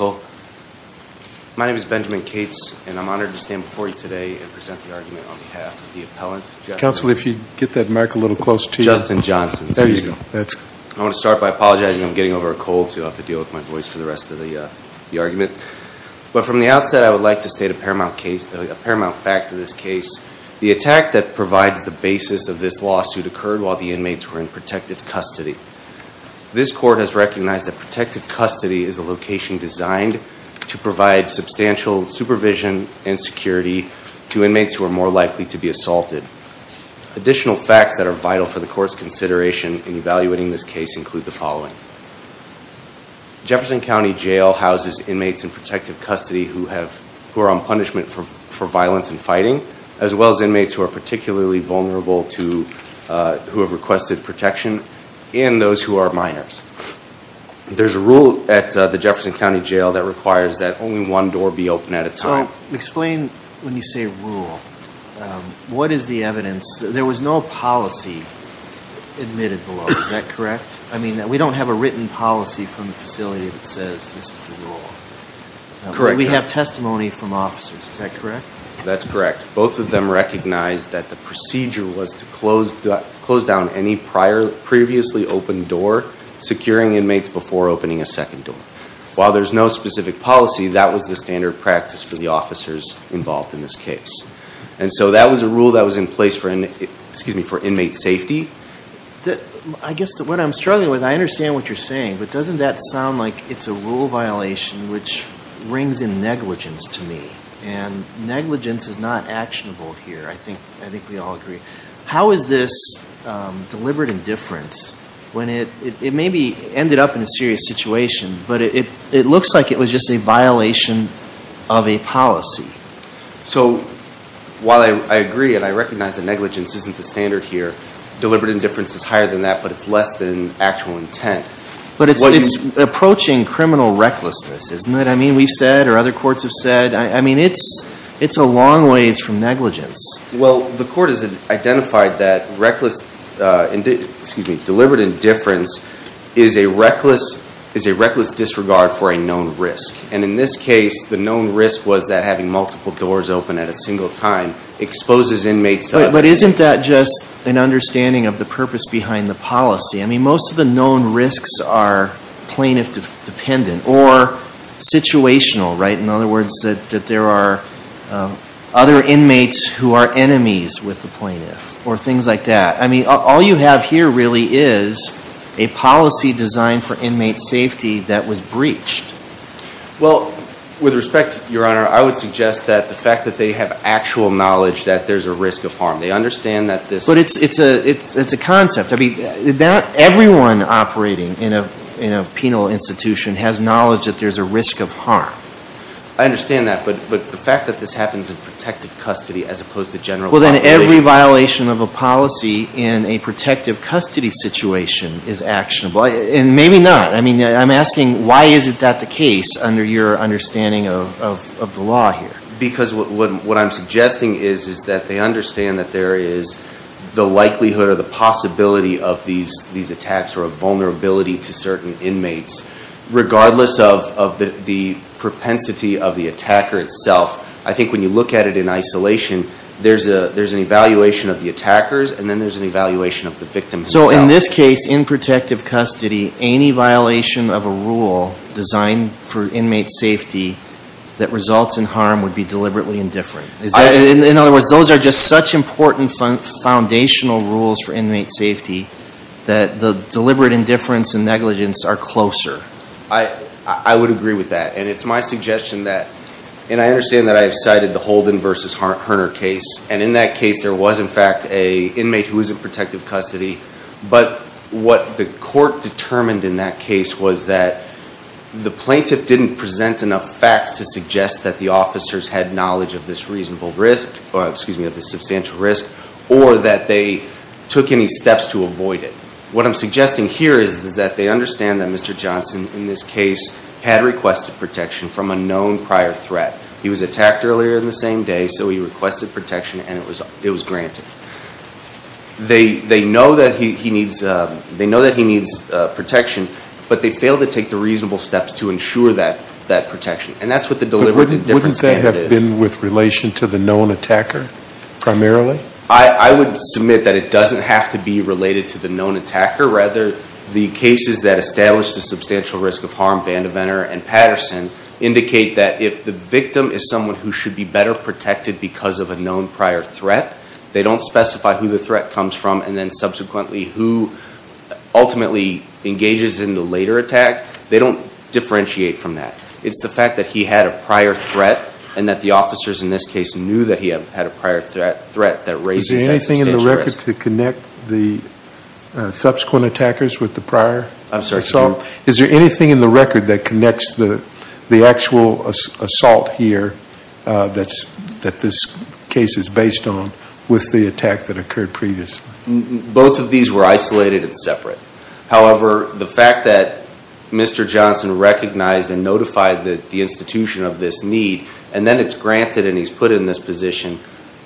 My name is Benjamin Cates and I'm honored to stand before you today and present the argument on behalf of the appellant, Justin Johnson. Counsel, if you could get that mic a little closer to you. Justin Johnson. There you go. I want to start by apologizing. I'm getting over a cold, so you'll have to deal with my voice for the rest of the argument. But from the outset, I would like to state a paramount fact of this case. The attack that provides the basis of this lawsuit occurred while the inmates were in protective custody. This court has recognized that protective custody is a location designed to provide substantial supervision and security to inmates who are more likely to be assaulted. Additional facts that are vital for the court's consideration in evaluating this case include the following. In those who are minors, there's a rule at the Jefferson County Jail that requires that only one door be open at a time. Explain when you say rule, what is the evidence? There was no policy admitted below, is that correct? I mean, we don't have a written policy from the facility that says this is the rule. Correct. We have testimony from officers, is that correct? That's correct. Both of them recognized that the procedure was to close down any previously opened door, securing inmates before opening a second door. While there's no specific policy, that was the standard practice for the officers involved in this case. And so that was a rule that was in place for inmate safety. I guess what I'm struggling with, I understand what you're saying, but doesn't that sound like it's a rule violation which rings in negligence to me? And negligence is not actionable here. I think we all agree. How is this deliberate indifference when it maybe ended up in a serious situation, but it looks like it was just a violation of a policy? So while I agree and I recognize that negligence isn't the standard here, deliberate indifference is higher than that, but it's less than actual intent. But it's approaching criminal recklessness, isn't it? I mean, we've said or other courts have said, I mean, it's a long ways from negligence. Well, the court has identified that deliberate indifference is a reckless disregard for a known risk. And in this case, the known risk was that having multiple doors open at a single time exposes inmates. But isn't that just an understanding of the purpose behind the policy? I mean, most of the known risks are plaintiff dependent or situational, right? In other words, that there are other inmates who are enemies with the plaintiff or things like that. I mean, all you have here really is a policy designed for inmate safety that was breached. Well, with respect, Your Honor, I would suggest that the fact that they have actual knowledge that there's a risk of harm. But it's a concept. I mean, not everyone operating in a penal institution has knowledge that there's a risk of harm. I understand that. But the fact that this happens in protective custody as opposed to general law. Well, then every violation of a policy in a protective custody situation is actionable. And maybe not. I mean, I'm asking why is that the case under your understanding of the law here? Because what I'm suggesting is that they understand that there is the likelihood or the possibility of these attacks or a vulnerability to certain inmates. Regardless of the propensity of the attacker itself, I think when you look at it in isolation, there's an evaluation of the attackers and then there's an evaluation of the victim. So in this case, in protective custody, any violation of a rule designed for inmate safety that results in harm would be deliberately indifferent. In other words, those are just such important foundational rules for inmate safety that the deliberate indifference and negligence are closer. I would agree with that. And it's my suggestion that, and I understand that I have cited the Holden v. Herner case. And in that case, there was, in fact, an inmate who was in protective custody. But what the court determined in that case was that the plaintiff didn't present enough facts to suggest that the officers had knowledge of this reasonable risk, or excuse me, of this substantial risk, or that they took any steps to avoid it. What I'm suggesting here is that they understand that Mr. Johnson, in this case, had requested protection from a known prior threat. He was attacked earlier in the same day, so he requested protection and it was granted. They know that he needs protection, but they fail to take the reasonable steps to ensure that protection. And that's what the deliberate indifference standard is. Wouldn't that have been with relation to the known attacker, primarily? I would submit that it doesn't have to be related to the known attacker. Rather, the cases that establish the substantial risk of harm, Vandevenor and Patterson, indicate that if the victim is someone who should be better protected because of a known prior threat, they don't specify who the threat comes from and then subsequently who ultimately engages in the later attack. They don't differentiate from that. It's the fact that he had a prior threat and that the officers, in this case, knew that he had a prior threat that raises that substantial risk. Is there a way to connect the subsequent attackers with the prior assault? Is there anything in the record that connects the actual assault here that this case is based on with the attack that occurred previously? Both of these were isolated and separate. However, the fact that Mr. Johnson recognized and notified the institution of this need, and then it's granted and he's put in this position,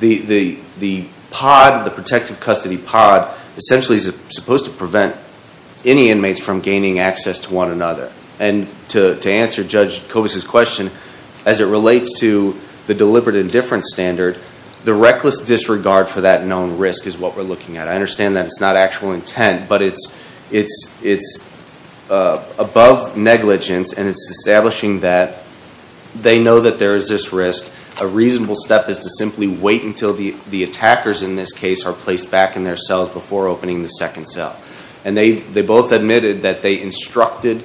the pod, the protective custody pod, essentially is supposed to prevent any inmates from gaining access to one another. And to answer Judge Kovas' question, as it relates to the deliberate indifference standard, the reckless disregard for that known risk is what we're looking at. I understand that it's not actual intent, but it's above negligence and it's establishing that they know that there is this risk. A reasonable step is to simply wait until the attackers, in this case, are placed back in their cells before opening the second cell. And they both admitted that they instructed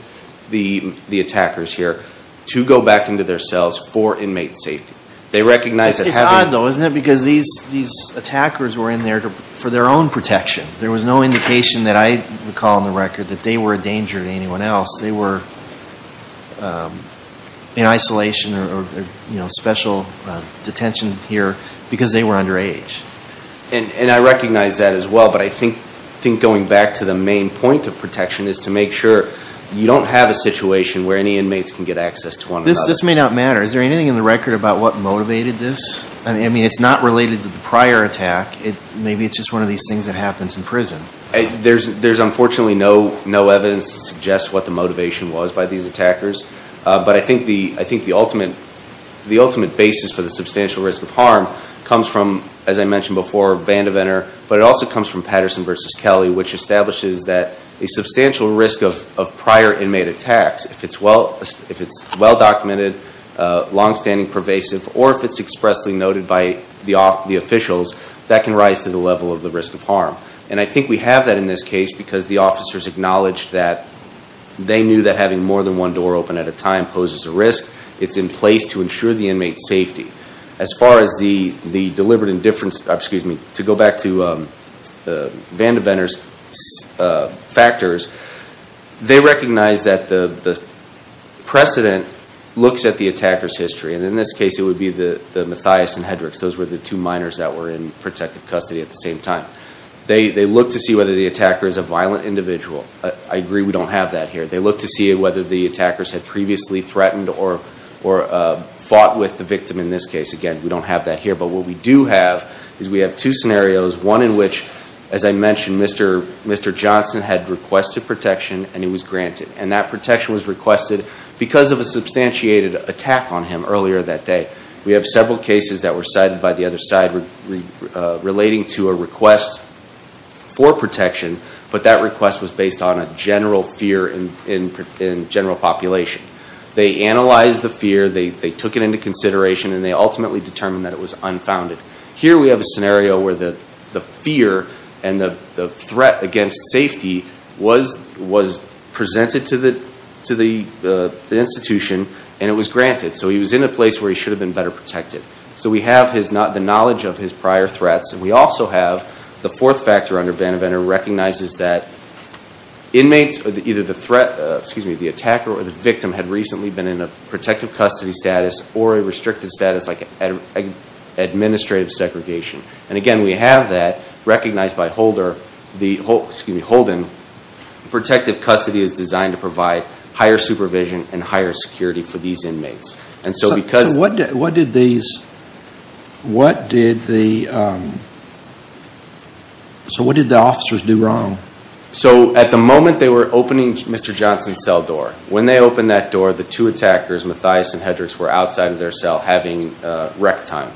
the attackers here to go back into their cells for inmate safety. It's odd though, isn't it, because these attackers were in there for their own protection. There was no indication that I recall in the record that they were a danger to anyone else. They were in isolation or special detention here because they were underage. And I recognize that as well, but I think going back to the main point of protection is to make sure you don't have a situation where any inmates can get access to one another. This may not matter. Is there anything in the record about what motivated this? I mean, it's not related to the prior attack. Maybe it's just one of these things that happens in prison. There's unfortunately no evidence to suggest what the motivation was by these attackers. But I think the ultimate basis for the substantial risk of harm comes from, as I mentioned before, band eventer. But it also comes from Patterson v. Kelly, which establishes that a substantial risk of prior inmate attacks, if it's well documented, long-standing, pervasive, or if it's expressly noted by the officials, that can rise to the level of the risk of harm. And I think we have that in this case because the officers acknowledged that they knew that having more than one door open at a time poses a risk. It's in place to ensure the inmate's safety. As far as the deliberate indifference, excuse me, to go back to the band eventers' factors, they recognize that the precedent looks at the attacker's history. And in this case, it would be the Mathias and Hedricks. Those were the two minors that were in protective custody at the same time. They look to see whether the attacker is a violent individual. I agree we don't have that here. They look to see whether the attackers had previously threatened or fought with the victim in this case. Again, we don't have that here. But what we do have is we have two scenarios, one in which, as I mentioned, Mr. Johnson had requested protection and he was granted. And that protection was requested because of a substantiated attack on him earlier that day. We have several cases that were cited by the other side relating to a request for protection, but that request was based on a general fear in general population. They analyzed the fear, they took it into consideration, and they ultimately determined that it was unfounded. Here we have a scenario where the fear and the threat against safety was presented to the institution and it was granted. So he was in a place where he should have been better protected. So we have the knowledge of his prior threats. We also have the fourth factor under Banneventer recognizes that inmates, either the threat, excuse me, the attacker or the victim had recently been in a protective custody status or a restricted status like administrative segregation. And again, we have that recognized by Holden. Protective custody is designed to provide higher supervision and higher security for these inmates. So what did the officers do wrong? So at the moment they were opening Mr. Johnson's cell door. When they opened that door, the two attackers, Matthias and Hedricks, were outside of their cell having rec time.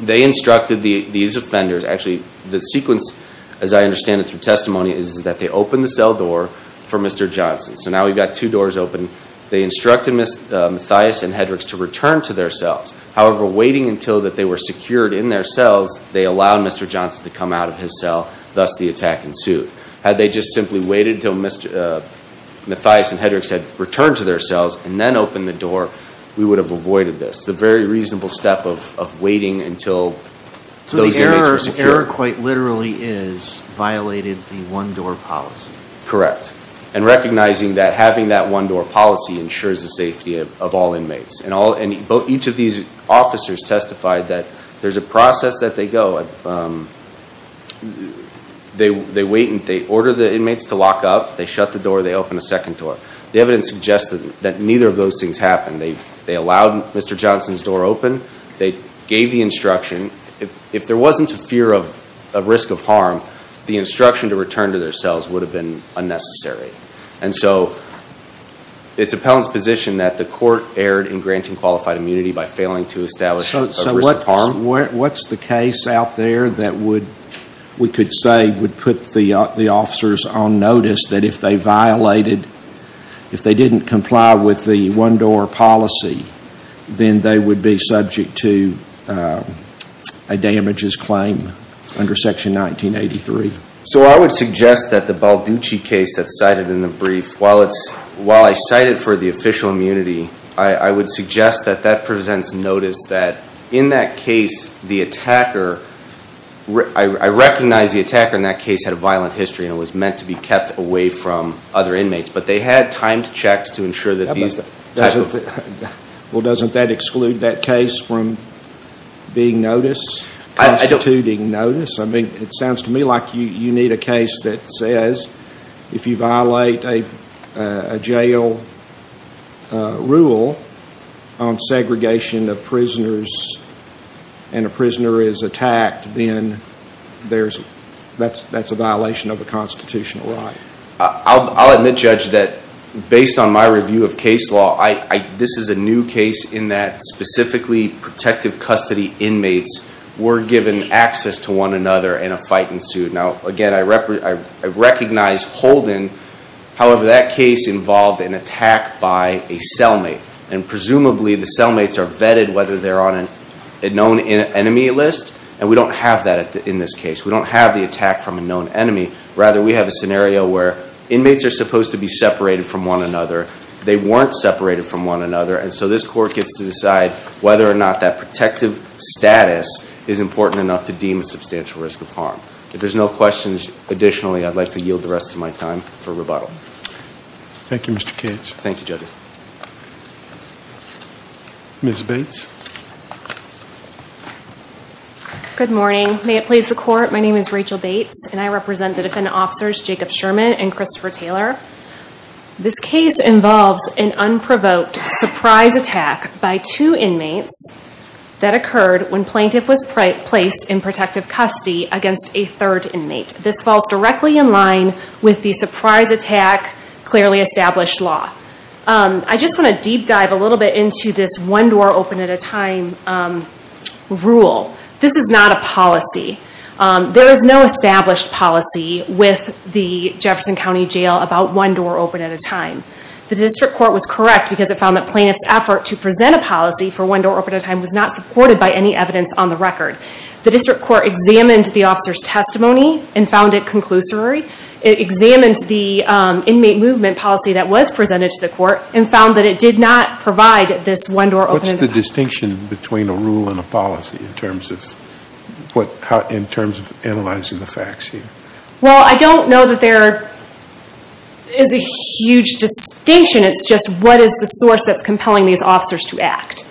They instructed these offenders, actually the sequence, as I understand it through testimony, is that they opened the cell door for Mr. Johnson. So now we've got two doors open. They instructed Matthias and Hedricks to return to their cells. However, waiting until they were secured in their cells, they allowed Mr. Johnson to come out of his cell. Thus the attack ensued. Had they just simply waited until Matthias and Hedricks had returned to their cells and then opened the door, we would have avoided this. It's a very reasonable step of waiting until those inmates were secured. So the error quite literally is violated the one-door policy. Correct. And recognizing that having that one-door policy ensures the safety of all inmates. And each of these officers testified that there's a process that they go. They wait and they order the inmates to lock up. They shut the door. They open a second door. The evidence suggests that neither of those things happened. They allowed Mr. Johnson's door open. They gave the instruction. If there wasn't a fear of risk of harm, the instruction to return to their cells would have been unnecessary. And so it's appellant's position that the court erred in granting qualified immunity by failing to establish a risk of harm. What's the case out there that we could say would put the officers on notice that if they violated, if they didn't comply with the one-door policy, then they would be subject to a damages claim under Section 1983? So I would suggest that the Balducci case that's cited in the brief, while I cite it for the official immunity, I would suggest that that presents notice that in that case the attacker, I recognize the attacker in that case had a violent history and was meant to be kept away from other inmates, but they had timed checks to ensure that these type of- Well, doesn't that exclude that case from being notice, constituting notice? I mean, it sounds to me like you need a case that says if you violate a jail rule on segregation of prisoners and a prisoner is attacked, then that's a violation of a constitutional right. I'll admit, Judge, that based on my review of case law, this is a new case in that specifically protective custody inmates were given access to one another in a fighting suit. Now, again, I recognize Holden. However, that case involved an attack by a cellmate, and presumably the cellmates are vetted whether they're on a known enemy list, and we don't have that in this case. We don't have the attack from a known enemy. Rather, we have a scenario where inmates are supposed to be separated from one another. They weren't separated from one another, and so this court gets to decide whether or not that protective status is important enough to deem a substantial risk of harm. If there's no questions additionally, I'd like to yield the rest of my time for rebuttal. Thank you, Mr. Cates. Thank you, Judge. Ms. Bates. Good morning. May it please the Court, my name is Rachel Bates, and I represent the defendant officers Jacob Sherman and Christopher Taylor. This case involves an unprovoked surprise attack by two inmates that occurred when plaintiff was placed in protective custody against a third inmate. This falls directly in line with the surprise attack clearly established law. I just want to deep dive a little bit into this one door open at a time rule. This is not a policy. There is no established policy with the Jefferson County Jail about one door open at a time. The district court was correct because it found that plaintiff's effort to present a policy for one door open at a time was not supported by any evidence on the record. The district court examined the officer's testimony and found it conclusory. It examined the inmate movement policy that was presented to the court and found that it did not provide this one door open at a time. What's the distinction between a rule and a policy in terms of analyzing the facts here? Well, I don't know that there is a huge distinction. It's just what is the source that's compelling these officers to act.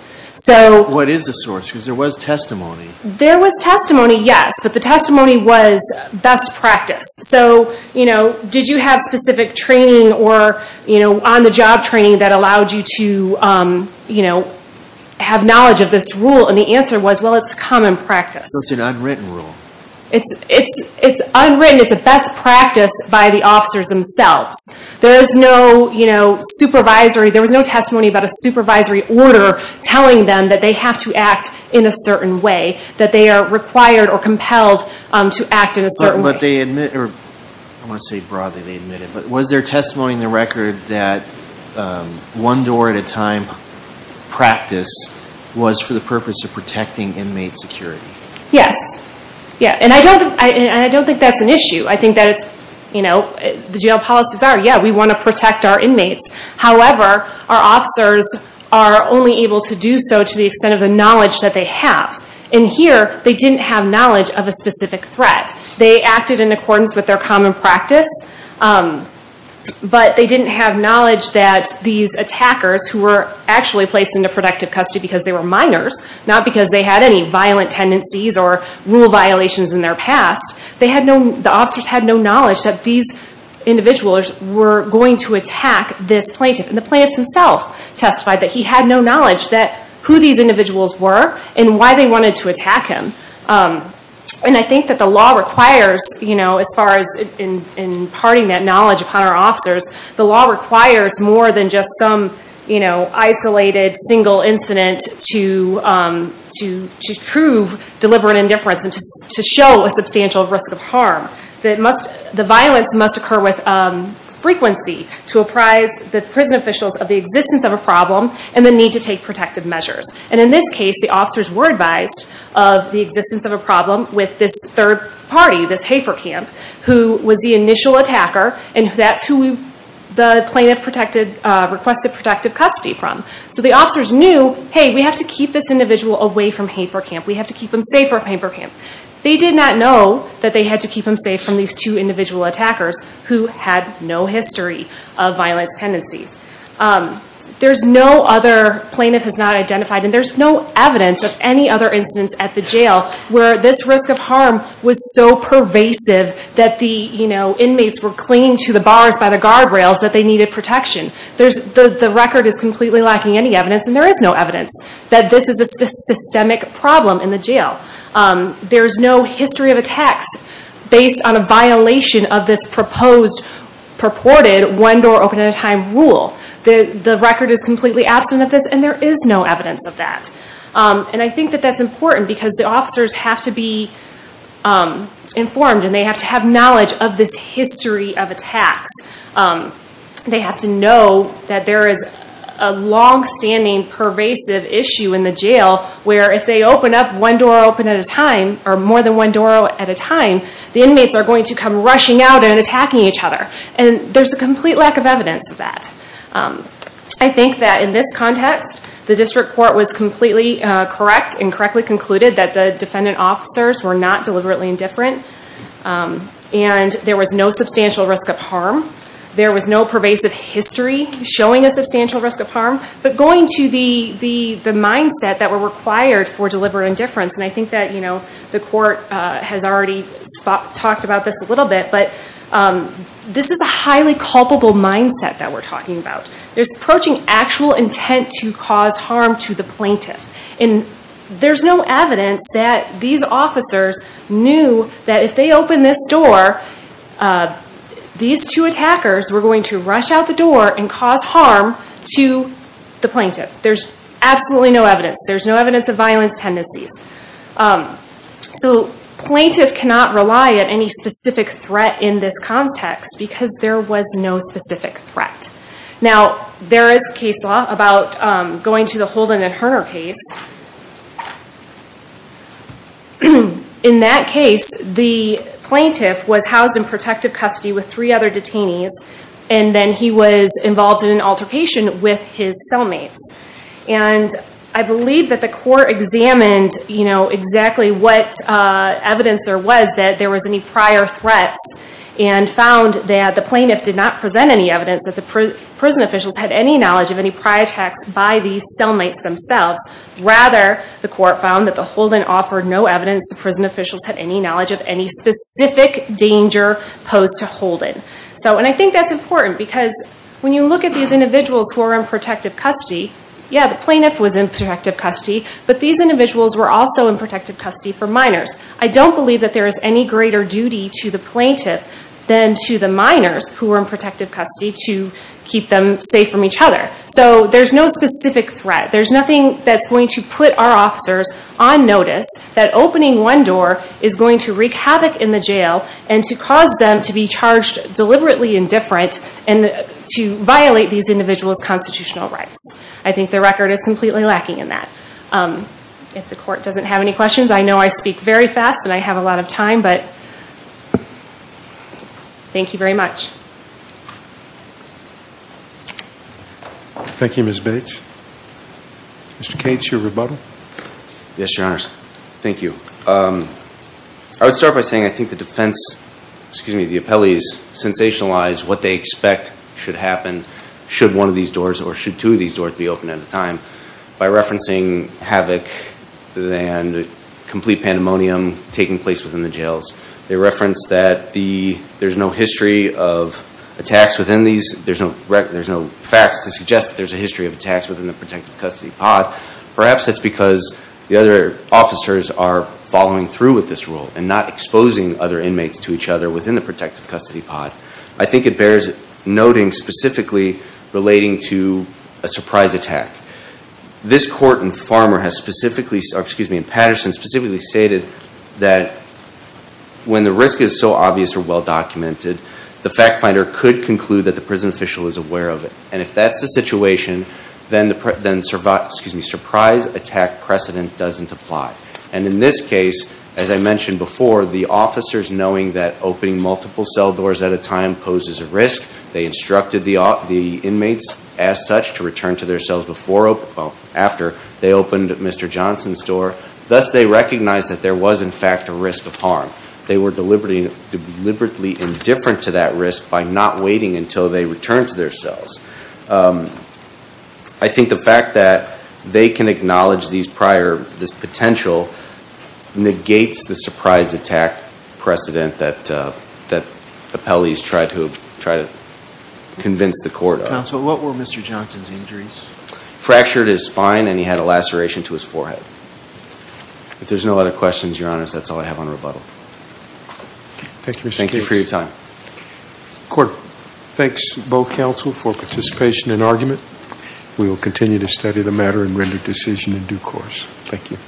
What is the source? Because there was testimony. There was testimony, yes, but the testimony was best practice. Did you have specific training or on-the-job training that allowed you to have knowledge of this rule? The answer was, well, it's common practice. So it's an unwritten rule. It's unwritten. It's a best practice by the officers themselves. There was no testimony about a supervisory order telling them that they have to act in a certain way, that they are required or compelled to act in a certain way. But they admit, or I want to say broadly they admit it, but was there testimony in the record that one door at a time practice was for the purpose of protecting inmate security? Yes. And I don't think that's an issue. I think that it's, you know, the jail policies are, yeah, we want to protect our inmates. However, our officers are only able to do so to the extent of the knowledge that they have. And here, they didn't have knowledge of a specific threat. They acted in accordance with their common practice. But they didn't have knowledge that these attackers, who were actually placed into protective custody because they were minors, not because they had any violent tendencies or rule violations in their past, the officers had no knowledge that these individuals were going to attack this plaintiff. And the plaintiffs themselves testified that he had no knowledge who these individuals were and why they wanted to attack him. And I think that the law requires, you know, as far as imparting that knowledge upon our officers, the law requires more than just some, you know, isolated single incident to prove deliberate indifference and to show a substantial risk of harm. The violence must occur with frequency to apprise the prison officials of the existence of a problem and the need to take protective measures. And in this case, the officers were advised of the existence of a problem with this third party, this Haferkamp, who was the initial attacker. And that's who the plaintiff requested protective custody from. So the officers knew, hey, we have to keep this individual away from Haferkamp. We have to keep him safe from Haferkamp. They did not know that they had to keep him safe from these two individual attackers who had no history of violence tendencies. There's no other plaintiff has not identified, and there's no evidence of any other incidents at the jail where this risk of harm was so pervasive that the, you know, inmates were clinging to the bars by the guardrails that they needed protection. The record is completely lacking any evidence, and there is no evidence that this is a systemic problem in the jail. There's no history of attacks based on a violation of this proposed, purported one door open at a time rule. The record is completely absent of this, and there is no evidence of that. And I think that that's important because the officers have to be informed, and they have to have knowledge of this history of attacks. They have to know that there is a longstanding pervasive issue in the jail where if they open up one door open at a time, or more than one door at a time, then the inmates are going to come rushing out and attacking each other. And there's a complete lack of evidence of that. I think that in this context, the district court was completely correct and correctly concluded that the defendant officers were not deliberately indifferent, and there was no substantial risk of harm. There was no pervasive history showing a substantial risk of harm, but going to the mindset that were required for deliberate indifference, and I think that the court has already talked about this a little bit, but this is a highly culpable mindset that we're talking about. There's approaching actual intent to cause harm to the plaintiff. There's no evidence that these officers knew that if they opened this door, these two attackers were going to rush out the door and cause harm to the plaintiff. There's absolutely no evidence. There's no evidence of violence tendencies. So plaintiff cannot rely on any specific threat in this context because there was no specific threat. Now, there is case law about going to the Holden and Herner case. In that case, the plaintiff was housed in protective custody with three other detainees, and then he was involved in an altercation with his cellmates. I believe that the court examined exactly what evidence there was that there was any prior threats, and found that the plaintiff did not present any evidence that the prison officials had any knowledge of any prior attacks by these cellmates themselves. Rather, the court found that the Holden offered no evidence that the prison officials had any knowledge of any specific danger posed to Holden. I think that's important because when you look at these individuals who are in protective custody, yeah, the plaintiff was in protective custody, but these individuals were also in protective custody for minors. I don't believe that there is any greater duty to the plaintiff than to the minors who were in protective custody to keep them safe from each other. So there's no specific threat. There's nothing that's going to put our officers on notice that opening one door is going to wreak havoc in the jail and to cause them to be charged deliberately indifferent and to violate these individuals' constitutional rights. I think the record is completely lacking in that. If the court doesn't have any questions, I know I speak very fast and I have a lot of time, but thank you very much. Thank you, Ms. Bates. Mr. Cates, your rebuttal? Yes, Your Honors. Thank you. I would start by saying I think the defense, excuse me, the appellees sensationalize what they expect should happen should one of these doors or should two of these doors be opened at a time by referencing havoc and complete pandemonium taking place within the jails. They reference that there's no history of attacks within these. There's no facts to suggest that there's a history of attacks within the protective custody pod. Perhaps that's because the other officers are following through with this rule and not exposing other inmates to each other within the protective custody pod. I think it bears noting specifically relating to a surprise attack. This court in Patterson specifically stated that when the risk is so obvious or well-documented, the fact finder could conclude that the prison official is aware of it. And if that's the situation, then surprise attack precedent doesn't apply. And in this case, as I mentioned before, the officers knowing that opening multiple cell doors at a time poses a risk, they instructed the inmates as such to return to their cells after they opened Mr. Johnson's door. Thus, they recognized that there was, in fact, a risk of harm. They were deliberately indifferent to that risk by not waiting until they returned to their cells. I think the fact that they can acknowledge this potential negates the surprise attack precedent that the appellees tried to convince the court of. Counsel, what were Mr. Johnson's injuries? Fractured his spine and he had a laceration to his forehead. If there's no other questions, Your Honor, that's all I have on rebuttal. Thank you for your time. Court, thanks both counsel for participation and argument. We will continue to study the matter and render decision in due course. Thank you.